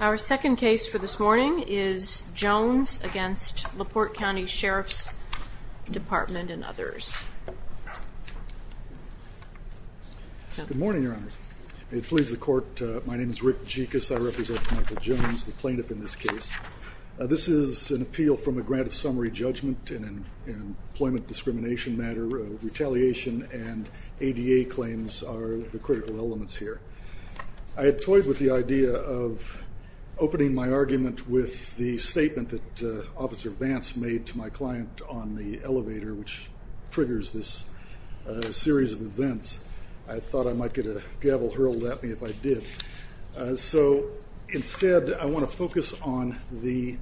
Our second case for this morning is Jones v. LaPorte County Sheriff's Department and others. Good morning, Your Honors. May it please the Court, my name is Rick Jekus. I represent Michael Jones, the plaintiff in this case. This is an appeal from a grant of summary judgment in an employment discrimination matter. Retaliation and ADA claims are the critical elements here. I had toyed with the idea of opening my argument with the statement that Officer Vance made to my client on the elevator which triggers this series of events. I thought I might get a gavel hurled at me if I did. So instead, I want to focus on the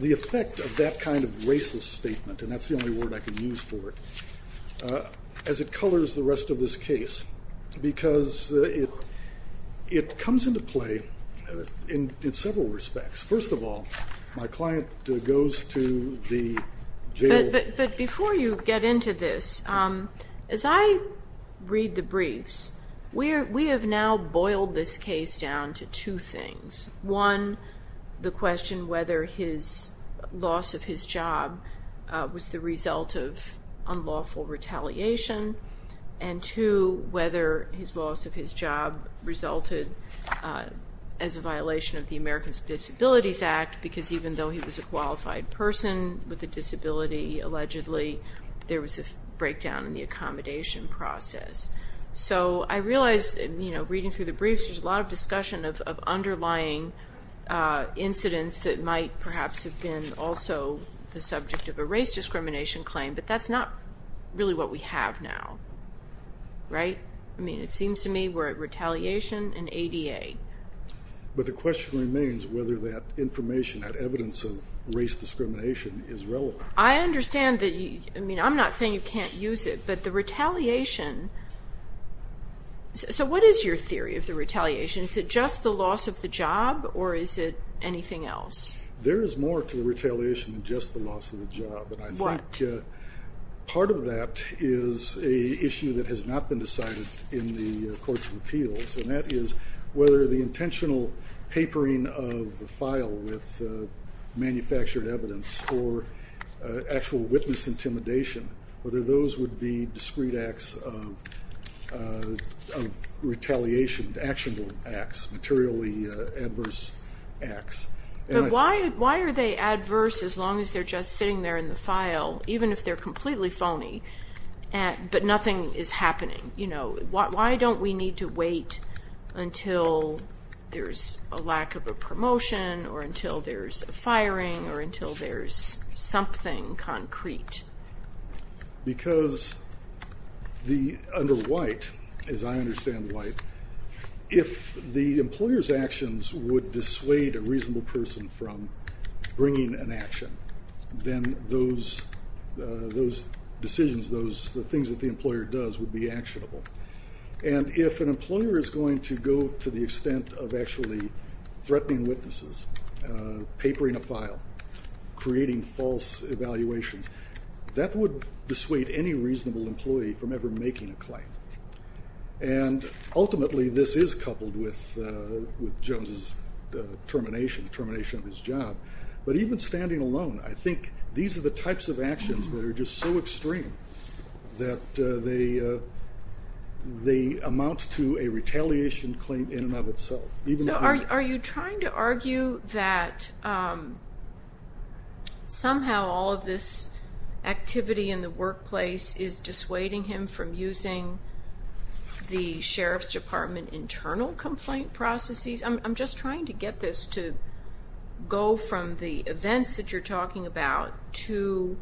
effect of that kind of racist statement, and that's the only word I can use for it, as it colors the rest of this case. Because it comes into play in several respects. First of all, my client goes to the jail... But before you get into this, as I read the briefs, we have now boiled this case down to two things. One, the question whether his loss of his job was the result of unlawful retaliation. And two, whether his loss of his job resulted as a violation of the Americans with Disabilities Act. Because even though he was a qualified person with a disability, allegedly, there was a breakdown in the accommodation process. So I realize, reading through the briefs, there's a lot of discussion of underlying incidents that might perhaps have been also the subject of a race discrimination claim. But that's not really what we have now. Right? I mean, it seems to me we're at retaliation and ADA. But the question remains whether that information, that evidence of race discrimination, is relevant. I understand that you... I mean, I'm not saying you can't use it, but the retaliation... So what is your theory of the retaliation? Is it just the loss of the job, or is it anything else? There is more to the retaliation than just the loss of the job. But I think part of that is an issue that has not been decided in the courts of appeals. And that is whether the intentional papering of the file with manufactured evidence or actual witness intimidation, whether those would be discrete acts of retaliation, actionable acts, materially adverse acts. But why are they adverse as long as they're just sitting there in the file, even if they're completely phony, but nothing is happening? You know, why don't we need to wait until there's a lack of a promotion or until there's a firing or until there's something concrete? Because under White, as I understand White, if the employer's actions would dissuade a reasonable person from bringing an action, then those decisions, the things that the employer does would be actionable. And if an employer is going to go to the extent of actually threatening witnesses, papering a file, creating false evaluations, that would dissuade any reasonable employee from ever making a claim. And ultimately, this is coupled with Jones's termination, termination of his job. But even standing alone, I think these are the types of actions that are just so extreme that they amount to a retaliation claim in and of itself. So are you trying to argue that somehow all of this activity in the workplace is dissuading him from using the Sheriff's Department internal complaint processes? I'm just trying to get this to go from the events that you're talking about to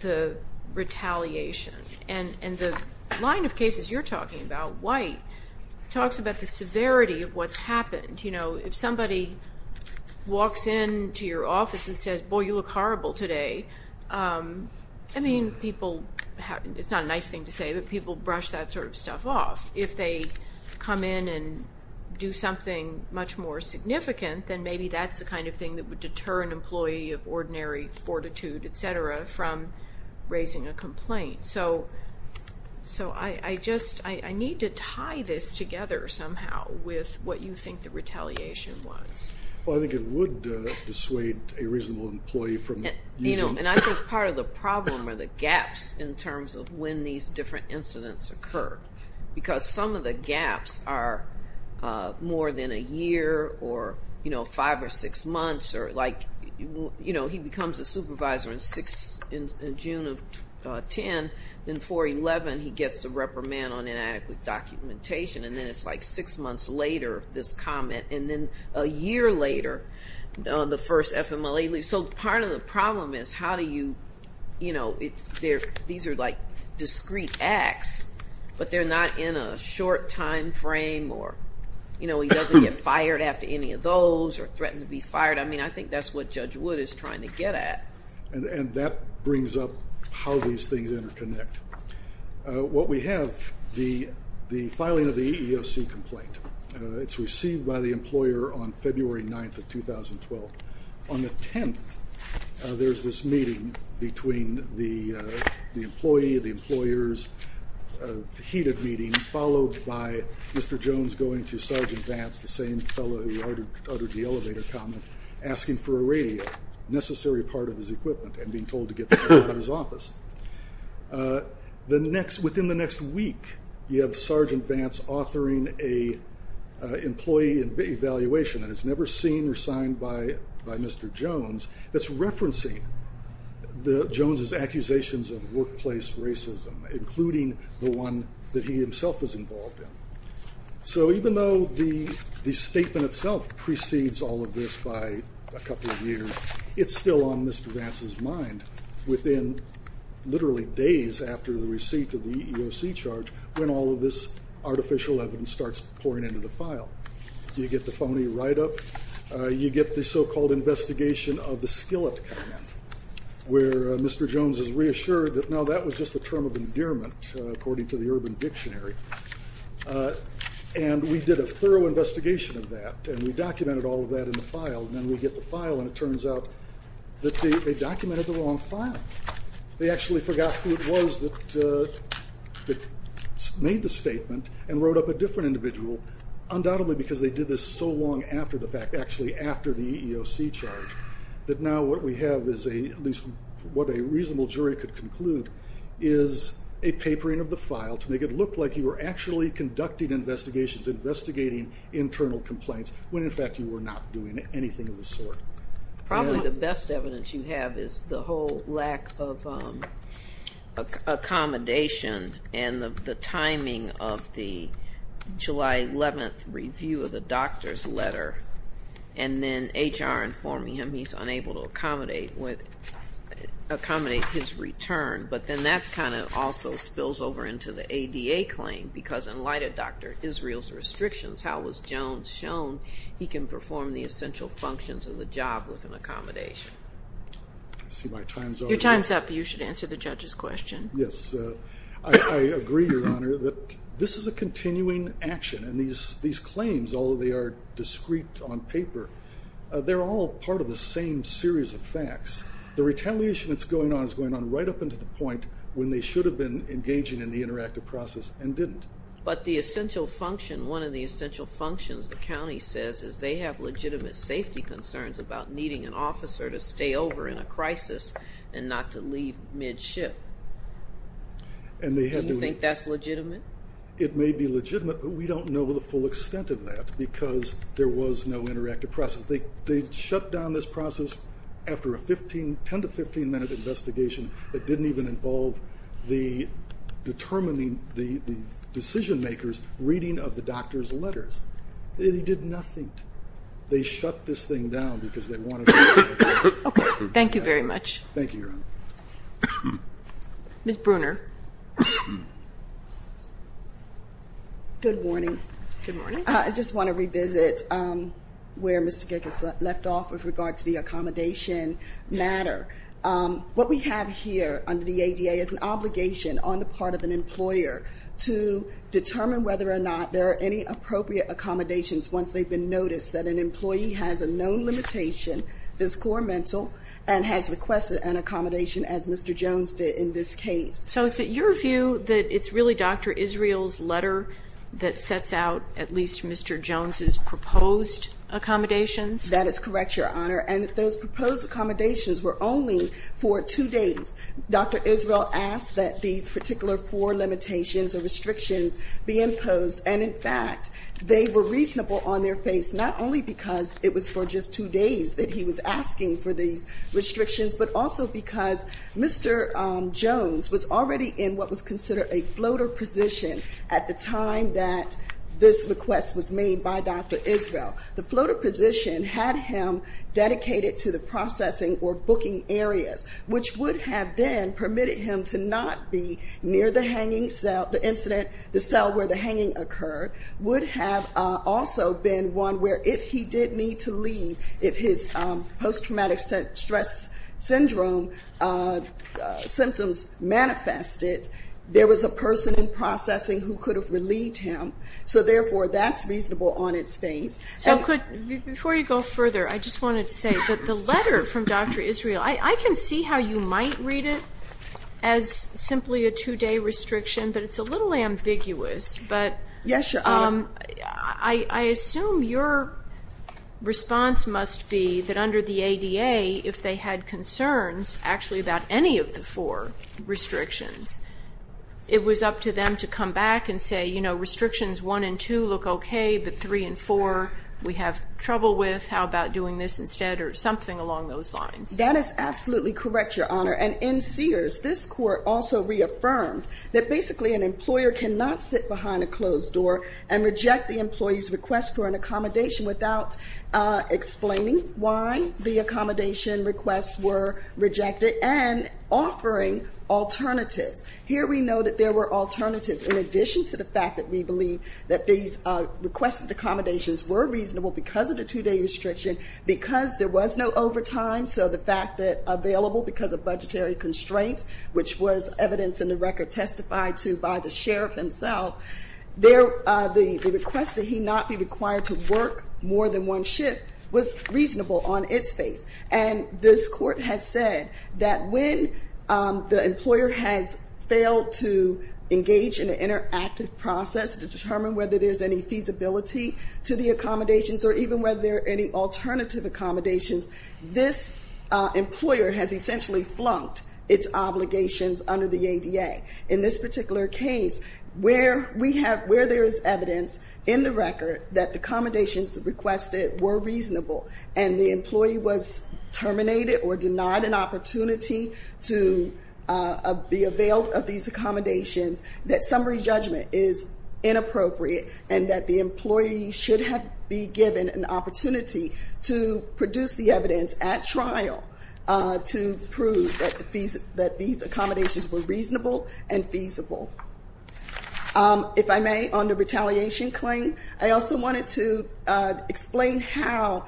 the retaliation. And the line of cases you're talking about, White, talks about the severity of what's happened. You know, if somebody walks into your office and says, boy, you look horrible today, I mean, people – it's not a nice thing to say, but people brush that sort of stuff off. If they come in and do something much more significant, then maybe that's the kind of thing that would deter an employee of ordinary fortitude, et cetera, from raising a complaint. So I just – I need to tie this together somehow with what you think the retaliation was. Well, I think it would dissuade a reasonable employee from using – You know, and I think part of the problem are the gaps in terms of when these different incidents occur. Because some of the gaps are more than a year or, you know, five or six months. Or like, you know, he becomes a supervisor in June of 2010. Then 4-11, he gets a reprimand on inadequate documentation. And then it's like six months later, this comment. And then a year later, the first FMLA leaves. So part of the problem is how do you – you know, these are like discrete acts, but they're not in a short time frame or, you know, he doesn't get fired after any of those or threatened to be fired. I mean, I think that's what Judge Wood is trying to get at. And that brings up how these things interconnect. What we have, the filing of the EEOC complaint, it's received by the employer on February 9th of 2012. On the 10th, there's this meeting between the employee, the employer's heated meeting, followed by Mr. Jones going to Sergeant Vance, the same fellow who ordered the elevator comment, asking for a radio, necessary part of his equipment, and being told to get that out of his office. Within the next week, you have Sergeant Vance authoring an employee evaluation that is never seen or signed by Mr. Jones that's referencing Jones's accusations of workplace racism, including the one that he himself is involved in. So even though the statement itself precedes all of this by a couple of years, it's still on Mr. Vance's mind within literally days after the receipt of the EEOC charge when all of this artificial evidence starts pouring into the file. You get the phony write-up. You get the so-called investigation of the skillet comment, where Mr. Jones is reassured that, no, that was just a term of endearment, according to the Urban Dictionary. And we did a thorough investigation of that, and we documented all of that in the file, and then we get the file, and it turns out that they documented the wrong file. They actually forgot who it was that made the statement and wrote up a different individual, undoubtedly because they did this so long after the fact, actually after the EEOC charge, that now what we have is a, at least what a reasonable jury could conclude, is a papering of the file to make it look like you were actually conducting investigations, investigating internal complaints, when, in fact, you were not doing anything of the sort. Probably the best evidence you have is the whole lack of accommodation and the timing of the July 11th review of the doctor's letter, and then HR informing him he's unable to accommodate his return. But then that kind of also spills over into the ADA claim, because in light of Dr. Israel's restrictions, how was Jones shown he can perform the essential functions of the job with an accommodation? I see my time's up. Your time's up. You should answer the judge's question. Yes. I agree, Your Honor, that this is a continuing action, and these claims, although they are discreet on paper, they're all part of the same series of facts. The retaliation that's going on is going on right up until the point when they should have been engaging in the interactive process and didn't. But the essential function, one of the essential functions the county says, is they have legitimate safety concerns about needing an officer to stay over in a crisis and not to leave mid-shift. Do you think that's legitimate? It may be legitimate, but we don't know the full extent of that, because there was no interactive process. They shut down this process after a 10- to 15-minute investigation that didn't even involve determining the decision-makers' reading of the doctor's letters. They did nothing. They shut this thing down because they wanted to. Okay. Thank you very much. Thank you, Your Honor. Ms. Bruner. Good morning. Good morning. I just want to revisit where Mr. Gick has left off with regards to the accommodation matter. What we have here under the ADA is an obligation on the part of an employer to determine whether or not there are any appropriate accommodations once they've been noticed that an employee has a known limitation, is core mental, and has requested an accommodation as Mr. Jones did in this case. So is it your view that it's really Dr. Israel's letter that sets out at least Mr. Jones's proposed accommodations? That is correct, Your Honor. And those proposed accommodations were only for two days. Dr. Israel asked that these particular four limitations or restrictions be imposed, and in fact they were reasonable on their face not only because it was for just two days that he was asking for these restrictions, but also because Mr. Jones was already in what was considered a floater position at the time that this request was made by Dr. Israel. The floater position had him dedicated to the processing or booking areas, which would have then permitted him to not be near the hanging cell, the incident, the cell where the hanging occurred, would have also been one where if he did need to leave, if his post-traumatic stress syndrome symptoms manifested, there was a person in processing who could have relieved him. So, therefore, that's reasonable on its face. So before you go further, I just wanted to say that the letter from Dr. Israel, I can see how you might read it as simply a two-day restriction, but it's a little ambiguous. Yes, Your Honor. I assume your response must be that under the ADA, if they had concerns actually about any of the four restrictions, it was up to them to come back and say, you know, restrictions one and two look okay, but three and four we have trouble with, how about doing this instead, or something along those lines. That is absolutely correct, Your Honor. And in Sears, this court also reaffirmed that basically an employer cannot sit behind a closed door and reject the employee's request for an accommodation without explaining why the accommodation requests were rejected and offering alternatives. Here we know that there were alternatives in addition to the fact that we believe that these requested accommodations were reasonable because of the two-day restriction, because there was no overtime, so the fact that available because of budgetary constraints, which was evidence in the record testified to by the sheriff himself, the request that he not be required to work more than one shift was reasonable on its face. And this court has said that when the employer has failed to engage in an interactive process to determine whether there's any feasibility to the accommodations or even whether there are any alternative accommodations, this employer has essentially flunked its obligations under the ADA. In this particular case, where there is evidence in the record that the accommodations requested were reasonable and the employee was terminated or denied an opportunity to be availed of these accommodations, that summary judgment is inappropriate and that the employee should have been given an opportunity to produce the evidence at trial to prove that these accommodations were reasonable and feasible. If I may, on the retaliation claim, I also wanted to explain how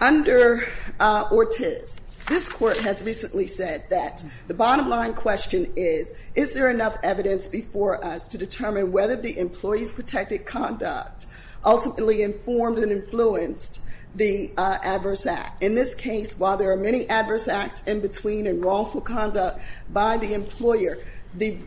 under Ortiz, this court has recently said that the bottom line question is, is there enough evidence before us to determine whether the employee's protected conduct ultimately informed and influenced the adverse act? In this case, while there are many adverse acts in between and wrongful conduct by the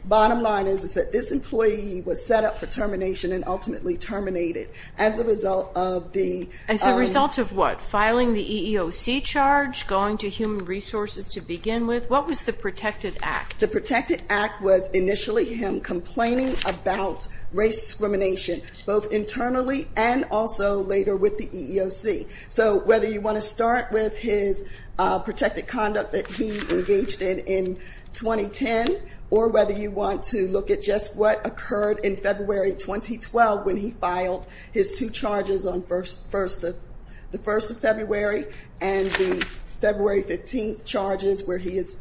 bottom line is that this employee was set up for termination and ultimately terminated as a result of the- As a result of what? Filing the EEOC charge, going to human resources to begin with? What was the protected act? The protected act was initially him complaining about race discrimination, both internally and also later with the EEOC. So whether you want to start with his protected conduct that he engaged in in 2010 or whether you want to look at just what occurred in February 2012 when he filed his two charges on the 1st of February and the February 15th charges where he is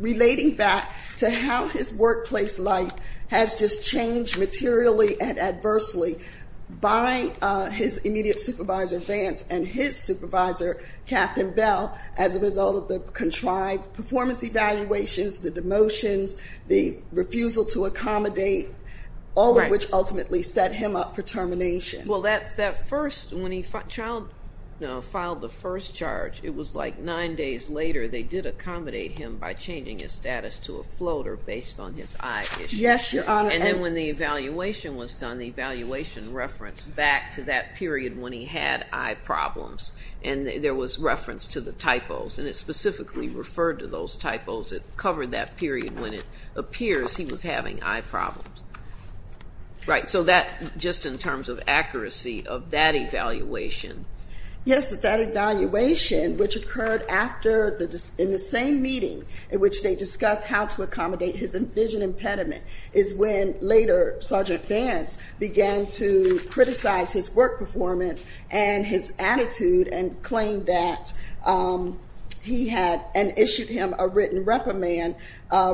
relating back to how his workplace life has just changed materially and adversely by his immediate supervisor, Vance, and his supervisor, Captain Bell, as a result of the contrived performance evaluations, the demotions, the refusal to accommodate, all of which ultimately set him up for termination. Well, that first, when he filed the first charge, it was like nine days later they did accommodate him by changing his status to a floater based on his eye issues. Yes, Your Honor. And then when the evaluation was done, the evaluation referenced back to that period when he had eye problems. And there was reference to the typos. And it specifically referred to those typos that covered that period when it appears he was having eye problems. Right. So that, just in terms of accuracy of that evaluation. Yes, but that evaluation, which occurred in the same meeting in which they discussed how to accommodate his vision impediment, is when later Sergeant Vance began to criticize his work performance and his attitude and claimed that he had, and issued him a written reprimand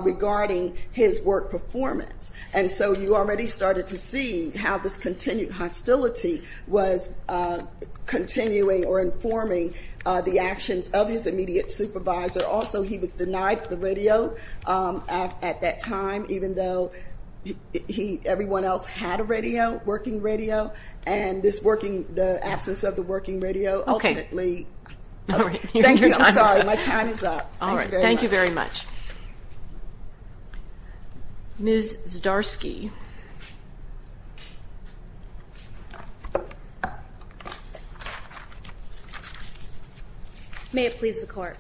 regarding his work performance. And so you already started to see how this continued hostility was continuing or informing the actions of his immediate supervisor. Also, he was denied the radio at that time, even though everyone else had a radio, working radio. And this absence of the working radio ultimately. Okay. Thank you. I'm sorry. My time is up. Thank you very much. All right. Thank you very much. Ms. Zdarsky. May it please the Court.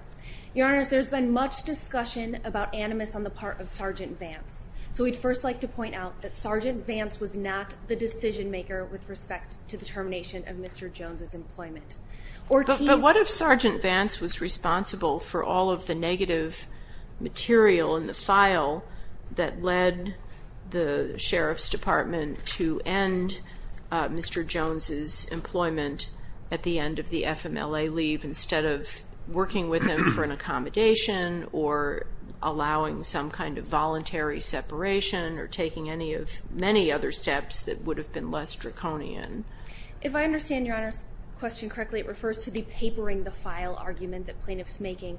Your Honors, there's been much discussion about Animus on the part of Sergeant Vance. So we'd first like to point out that Sergeant Vance was not the decision maker with respect to the termination of Mr. Jones's employment. But what if Sergeant Vance was responsible for all of the negative material in the file that led the Sheriff's Department to end Mr. Jones's employment at the end of the FMLA leave, instead of working with him for an accommodation or allowing some kind of voluntary separation or taking any of many other steps that would have been less draconian? If I understand Your Honors' question correctly, it refers to the papering the file argument that plaintiff is making.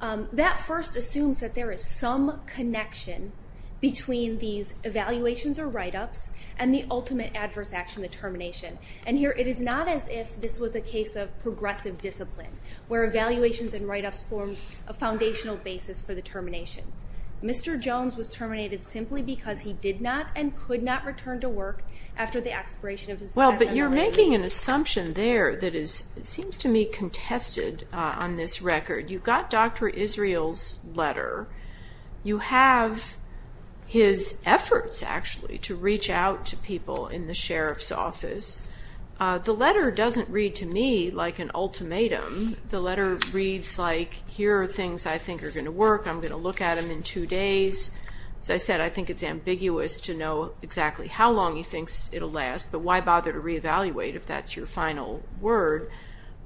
That first assumes that there is some connection between these evaluations or write-ups and the ultimate adverse action, the termination. And here it is not as if this was a case of progressive discipline, where evaluations and write-ups form a foundational basis for the termination. Mr. Jones was terminated simply because he did not and could not return to work after the expiration of his FMLA leave. Well, but you're making an assumption there that seems to me contested on this record. You've got Dr. Israel's letter. You have his efforts, actually, to reach out to people in the Sheriff's office. The letter doesn't read to me like an ultimatum. The letter reads like, here are things I think are going to work. I'm going to look at them in two days. As I said, I think it's ambiguous to know exactly how long he thinks it will last, but why bother to reevaluate if that's your final word?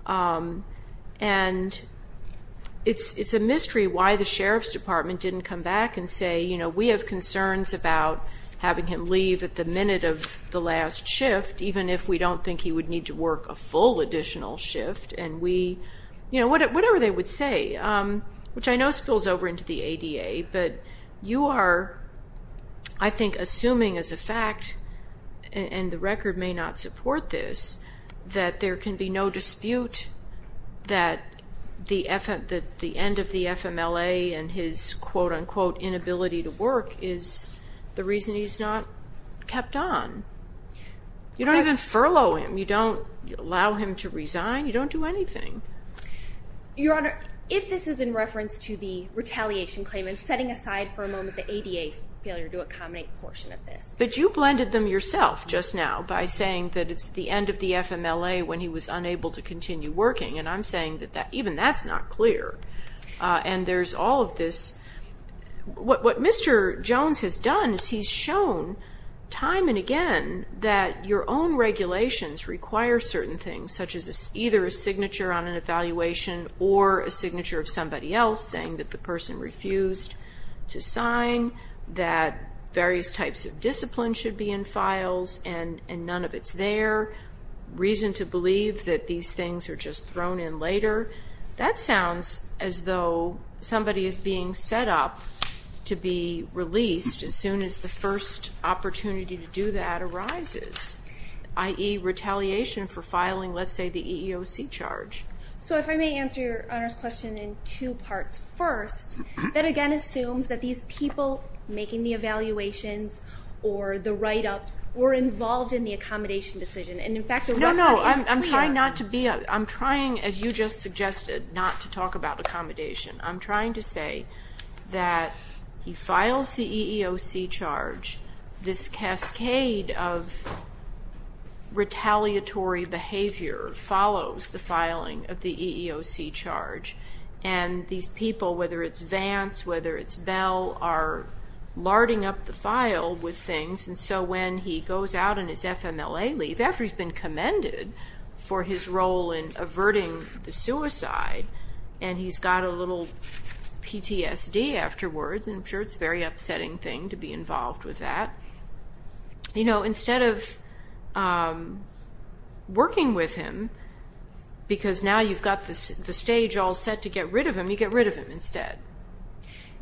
And it's a mystery why the Sheriff's department didn't come back and say, you know, we have concerns about having him leave at the minute of the last shift, even if we don't think he would need to work a full additional shift, and we, you know, whatever they would say, which I know spills over into the ADA, but you are, I think, assuming as a fact, and the record may not support this, that there can be no dispute that the end of the FMLA and his quote-unquote inability to work is the reason he's not kept on. You don't even furlough him. You don't allow him to resign. You don't do anything. Your Honor, if this is in reference to the retaliation claim and setting aside for a moment the ADA failure to accommodate a portion of this. But you blended them yourself just now by saying that it's the end of the FMLA when he was unable to continue working, and I'm saying that even that's not clear. And there's all of this. What Mr. Jones has done is he's shown time and again that your own regulations require certain things, such as either a signature on an evaluation or a signature of somebody else saying that the person refused to sign, that various types of discipline should be in files and none of it's there, reason to believe that these things are just thrown in later. That sounds as though somebody is being set up to be released as soon as the first opportunity to do that arises, i.e. retaliation for filing, let's say, the EEOC charge. So if I may answer your Honor's question in two parts. First, that again assumes that these people making the evaluations or the write-ups were involved in the accommodation decision. And, in fact, the record is clear. I'm trying, as you just suggested, not to talk about accommodation. I'm trying to say that he files the EEOC charge, this cascade of retaliatory behavior follows the filing of the EEOC charge, and these people, whether it's Vance, whether it's Bell, are larding up the file with things. And so when he goes out on his FMLA leave, after he's been commended for his role in averting the suicide, and he's got a little PTSD afterwards, and I'm sure it's a very upsetting thing to be involved with that, instead of working with him, because now you've got the stage all set to get rid of him, you get rid of him instead.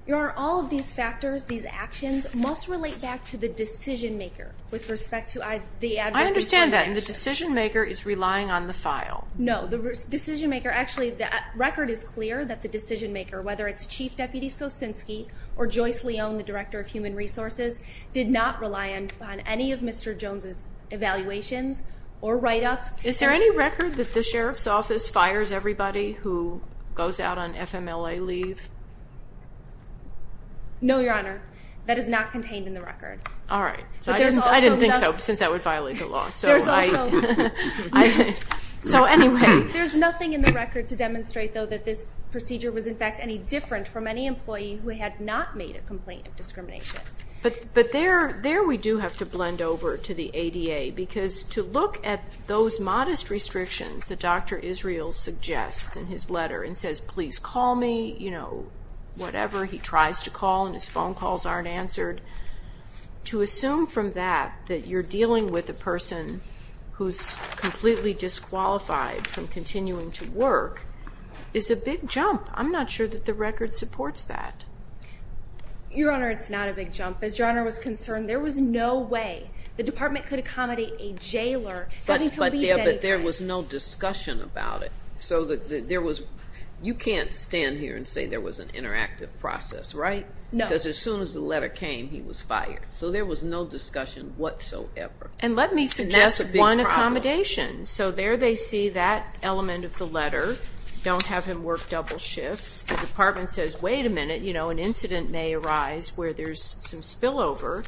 Your Honor, all of these factors, these actions, must relate back to the decision-maker with respect to the adverse response. I understand that. And the decision-maker is relying on the file. No. The decision-maker, actually, the record is clear that the decision-maker, whether it's Chief Deputy Sosinski or Joyce Leon, the Director of Human Resources, did not rely on any of Mr. Jones' evaluations or write-ups. Is there any record that the Sheriff's Office fires everybody who goes out on FMLA leave? No, Your Honor. That is not contained in the record. All right. I didn't think so, since that would violate the law. So anyway. There's nothing in the record to demonstrate, though, that this procedure was, in fact, any different from any employee who had not made a complaint of discrimination. But there we do have to blend over to the ADA, because to look at those modest restrictions that Dr. Israel suggests in his letter and says, please call me, you know, whatever, he tries to call and his phone calls aren't answered. To assume from that that you're dealing with a person who's completely disqualified from continuing to work is a big jump. I'm not sure that the record supports that. Your Honor, it's not a big jump. As Your Honor was concerned, there was no way the department could accommodate a jailer having to leave anyway. But there was no discussion about it. You can't stand here and say there was an interactive process, right? No. Because as soon as the letter came, he was fired. So there was no discussion whatsoever. And let me suggest one accommodation. So there they see that element of the letter, don't have him work double shifts. The department says, wait a minute, you know, an incident may arise where there's some spillover,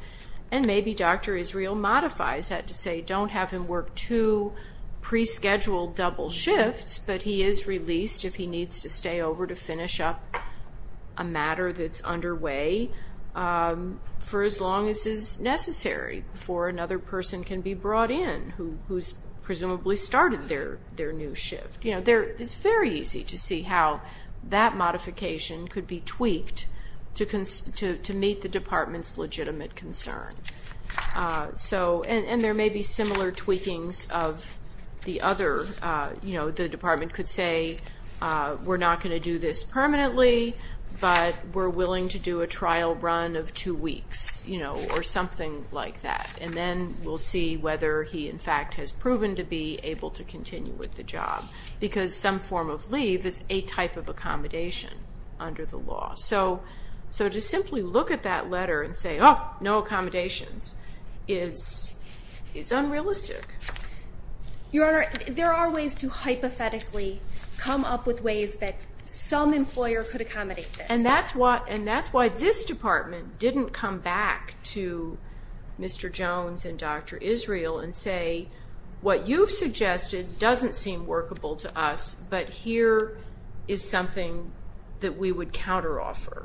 and maybe Dr. Israel modifies that to say, don't have him work two pre-scheduled double shifts, but he is released if he needs to stay over to finish up a matter that's underway for as long as is necessary before another person can be brought in who's presumably started their new shift. You know, it's very easy to see how that modification could be tweaked to meet the department's legitimate concern. And there may be similar tweakings of the other, you know, the department could say we're not going to do this permanently, but we're willing to do a trial run of two weeks, you know, or something like that. And then we'll see whether he, in fact, has proven to be able to continue with the job. Because some form of leave is a type of accommodation under the law. So to simply look at that letter and say, oh, no accommodations, is unrealistic. Your Honor, there are ways to hypothetically come up with ways that some employer could accommodate this. And that's why this department didn't come back to Mr. Jones and Dr. Israel and say what you've suggested doesn't seem workable to us, but here is something that we would counteroffer.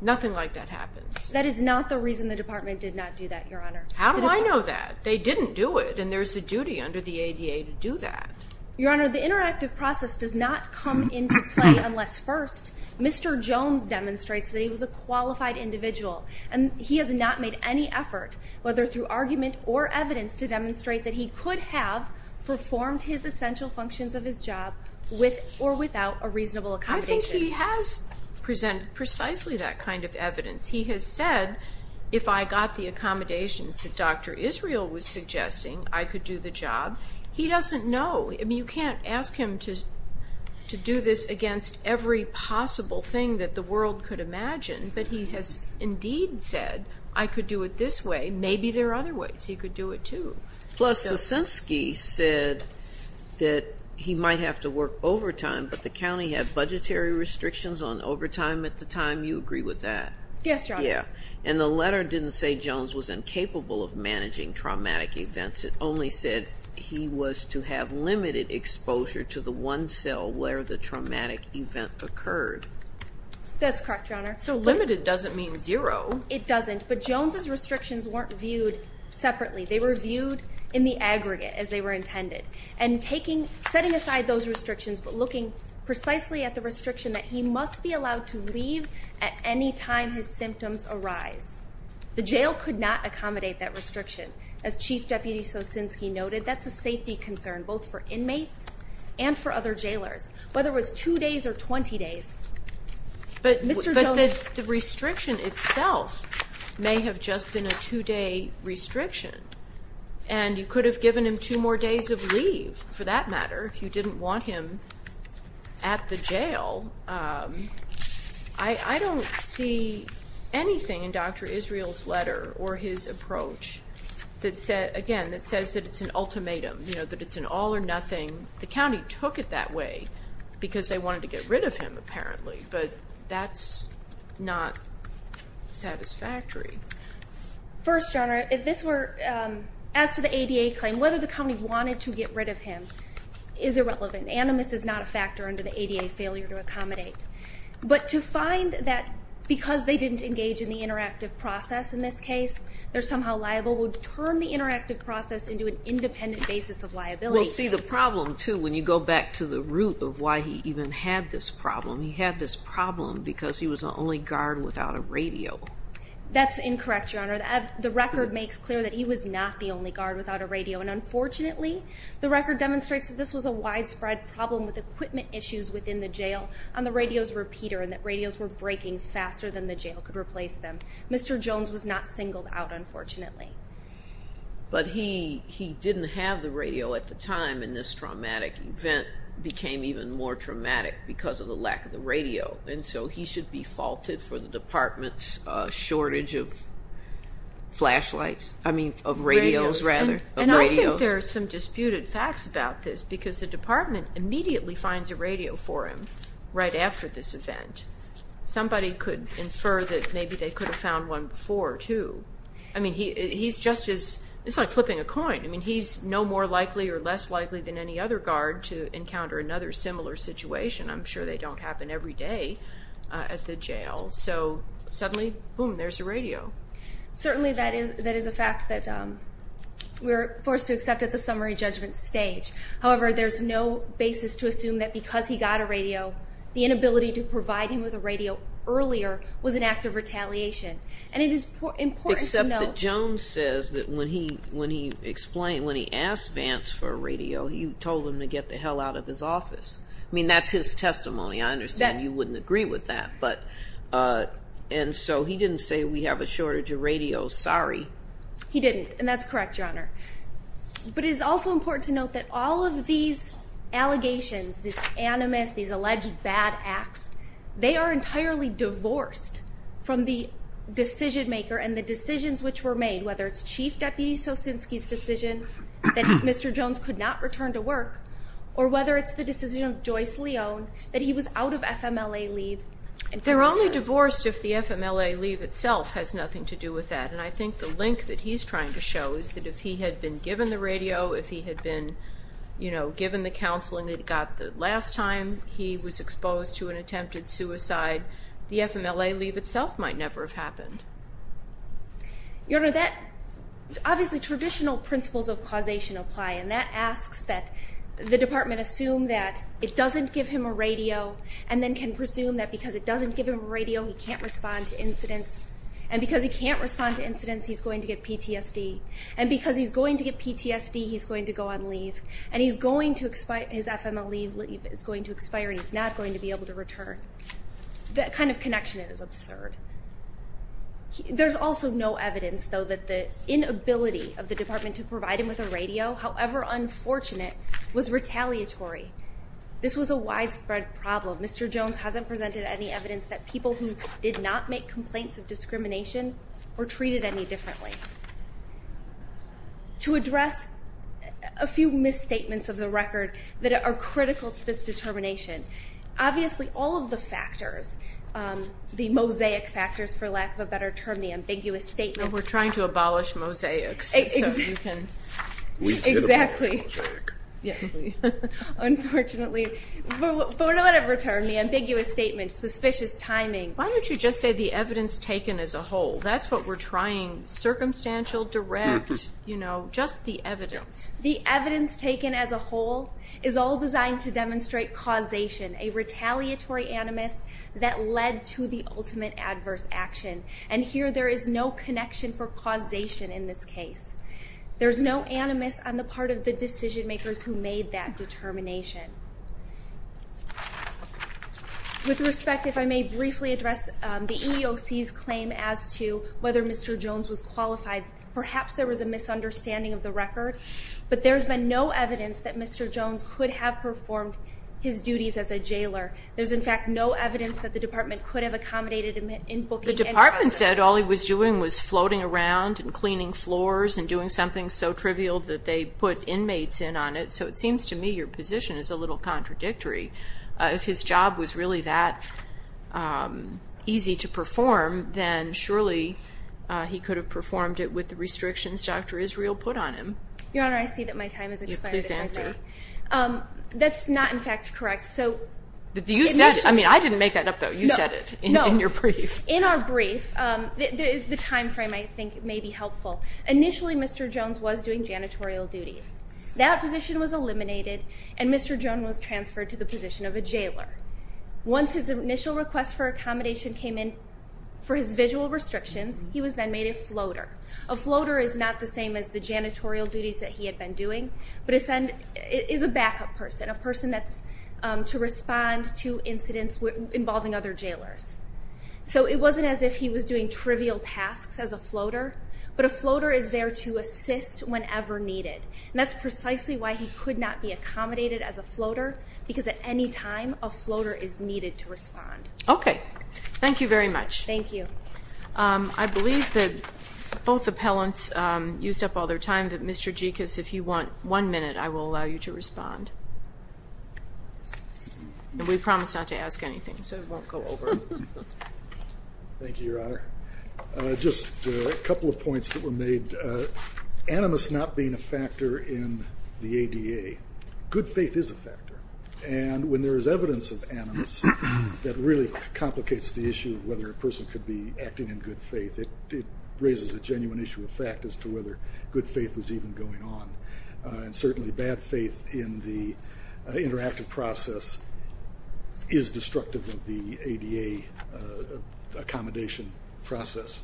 Nothing like that happens. That is not the reason the department did not do that, Your Honor. How do I know that? They didn't do it, and there's a duty under the ADA to do that. Your Honor, the interactive process does not come into play unless first Mr. Jones demonstrates that he was a qualified individual, and he has not made any effort, whether through argument or evidence, to demonstrate that he could have performed his essential functions of his job with or without a reasonable accommodation. I think he has presented precisely that kind of evidence. He has said, if I got the accommodations that Dr. Israel was suggesting, I could do the job. He doesn't know. I mean, you can't ask him to do this against every possible thing that the world could imagine, but he has indeed said I could do it this way. Maybe there are other ways he could do it too. Plus, Sosinski said that he might have to work overtime, but the county had budgetary restrictions on overtime at the time. You agree with that? Yes, Your Honor. And the letter didn't say Jones was incapable of managing traumatic events. It only said he was to have limited exposure to the one cell where the traumatic event occurred. That's correct, Your Honor. So limited doesn't mean zero. It doesn't, but Jones' restrictions weren't viewed separately. They were viewed in the aggregate as they were intended. And setting aside those restrictions, but looking precisely at the restriction that he must be allowed to leave at any time his symptoms arise. The jail could not accommodate that restriction. As Chief Deputy Sosinski noted, that's a safety concern, both for inmates and for other jailers, whether it was two days or 20 days. But the restriction itself may have just been a two-day restriction, and you could have given him two more days of leave, for that matter, if you didn't want him at the jail. I don't see anything in Dr. Israel's letter or his approach, again, that says that it's an ultimatum, that it's an all or nothing. The county took it that way because they wanted to get rid of him, apparently. But that's not satisfactory. First, Your Honor, if this were as to the ADA claim, whether the county wanted to get rid of him is irrelevant. Animus is not a factor under the ADA failure to accommodate. But to find that because they didn't engage in the interactive process, in this case, they're somehow liable, would turn the interactive process into an independent basis of liability. But we'll see the problem, too, when you go back to the root of why he even had this problem. He had this problem because he was the only guard without a radio. That's incorrect, Your Honor. The record makes clear that he was not the only guard without a radio, and unfortunately, the record demonstrates that this was a widespread problem with equipment issues within the jail on the radio's repeater and that radios were breaking faster than the jail could replace them. Mr. Jones was not singled out, unfortunately. But he didn't have the radio at the time, and this traumatic event became even more traumatic because of the lack of the radio, and so he should be faulted for the department's shortage of flashlights. I mean, of radios, rather. And I think there are some disputed facts about this because the department immediately finds a radio for him right after this event. Somebody could infer that maybe they could have found one before, too. I mean, he's just as—it's like flipping a coin. I mean, he's no more likely or less likely than any other guard to encounter another similar situation. I'm sure they don't happen every day at the jail. So suddenly, boom, there's a radio. Certainly that is a fact that we're forced to accept at the summary judgment stage. However, there's no basis to assume that because he got a radio, the inability to provide him with a radio earlier was an act of retaliation. And it is important to note— Except that Jones says that when he asked Vance for a radio, you told him to get the hell out of his office. I mean, that's his testimony. I understand you wouldn't agree with that, and so he didn't say we have a shortage of radios. Sorry. He didn't, and that's correct, Your Honor. But it is also important to note that all of these allegations, these animus, these alleged bad acts, they are entirely divorced from the decision-maker and the decisions which were made, whether it's Chief Deputy Sosinski's decision that Mr. Jones could not return to work or whether it's the decision of Joyce Leone that he was out of FMLA leave. They're only divorced if the FMLA leave itself has nothing to do with that, and I think the link that he's trying to show is that if he had been given the radio, if he had been given the counseling that he got the last time he was exposed to an attempted suicide, the FMLA leave itself might never have happened. Your Honor, obviously traditional principles of causation apply, and that asks that the department assume that it doesn't give him a radio and then can presume that because it doesn't give him a radio, he can't respond to incidents, and because he can't respond to incidents, he's going to get PTSD, and because he's going to get PTSD, he's going to go on leave, and his FMLA leave is going to expire and he's not going to be able to return. That kind of connection is absurd. There's also no evidence, though, that the inability of the department to provide him with a radio, however unfortunate, was retaliatory. This was a widespread problem. Mr. Jones hasn't presented any evidence that people who did not make complaints of discrimination were treated any differently. To address a few misstatements of the record that are critical to this determination, obviously all of the factors, the mosaic factors, for lack of a better term, the ambiguous statement. We're trying to abolish mosaics. Exactly. Unfortunately, for whatever term, the ambiguous statement, suspicious timing. Why don't you just say the evidence taken as a whole? That's what we're trying. Circumstantial, direct, just the evidence. The evidence taken as a whole is all designed to demonstrate causation, a retaliatory animus that led to the ultimate adverse action, and here there is no connection for causation in this case. There's no animus on the part of the decision makers who made that determination. With respect, if I may briefly address the EEOC's claim as to whether Mr. Jones was qualified, perhaps there was a misunderstanding of the record, but there's been no evidence that Mr. Jones could have performed his duties as a jailer. There's, in fact, no evidence that the Department could have accommodated him in booking any kind of activity. The Department said all he was doing was floating around and cleaning floors and doing something so trivial that they put inmates in on it, so it seems to me your position is a little contradictory. If his job was really that easy to perform, then surely he could have performed it with the restrictions Dr. Israel put on him. Your Honor, I see that my time has expired. Please answer. That's not, in fact, correct. But you said, I mean, I didn't make that up, though. You said it in your brief. In our brief, the time frame, I think, may be helpful. Initially, Mr. Jones was doing janitorial duties. That position was eliminated, and Mr. Jones was transferred to the position of a jailer. Once his initial request for accommodation came in for his visual restrictions, he was then made a floater. A floater is not the same as the janitorial duties that he had been doing, but is a backup person, a person that's to respond to incidents involving other jailers. So it wasn't as if he was doing trivial tasks as a floater, but a floater is there to assist whenever needed. And that's precisely why he could not be accommodated as a floater, because at any time a floater is needed to respond. Okay. Thank you very much. Thank you. I believe that both appellants used up all their time, but Mr. Gekas, if you want one minute, I will allow you to respond. And we promise not to ask anything, so it won't go over. Thank you, Your Honor. Just a couple of points that were made. Animus not being a factor in the ADA, good faith is a factor. And when there is evidence of animus, that really complicates the issue of whether a person could be acting in good faith. It raises a genuine issue of fact as to whether good faith was even going on. And certainly bad faith in the interactive process is destructive of the ADA accommodation process.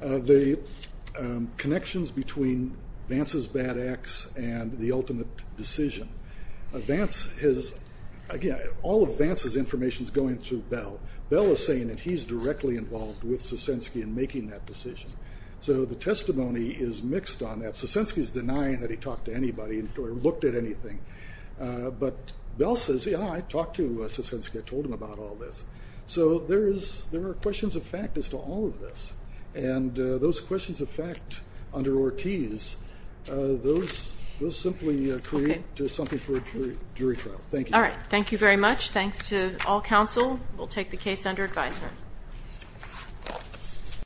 The connections between Vance's bad acts and the ultimate decision. Vance has, again, all of Vance's information is going through Bell. Bell is saying that he's directly involved with Sosinski in making that decision. So the testimony is mixed on that. Sosinski is denying that he talked to anybody or looked at anything. But Bell says, yeah, I talked to Sosinski. I told him about all this. So there are questions of fact as to all of this. And those questions of fact under Ortiz, those simply create something for a jury trial. Thank you. All right. Thank you very much. Thanks to all counsel. We'll take the case under advisement.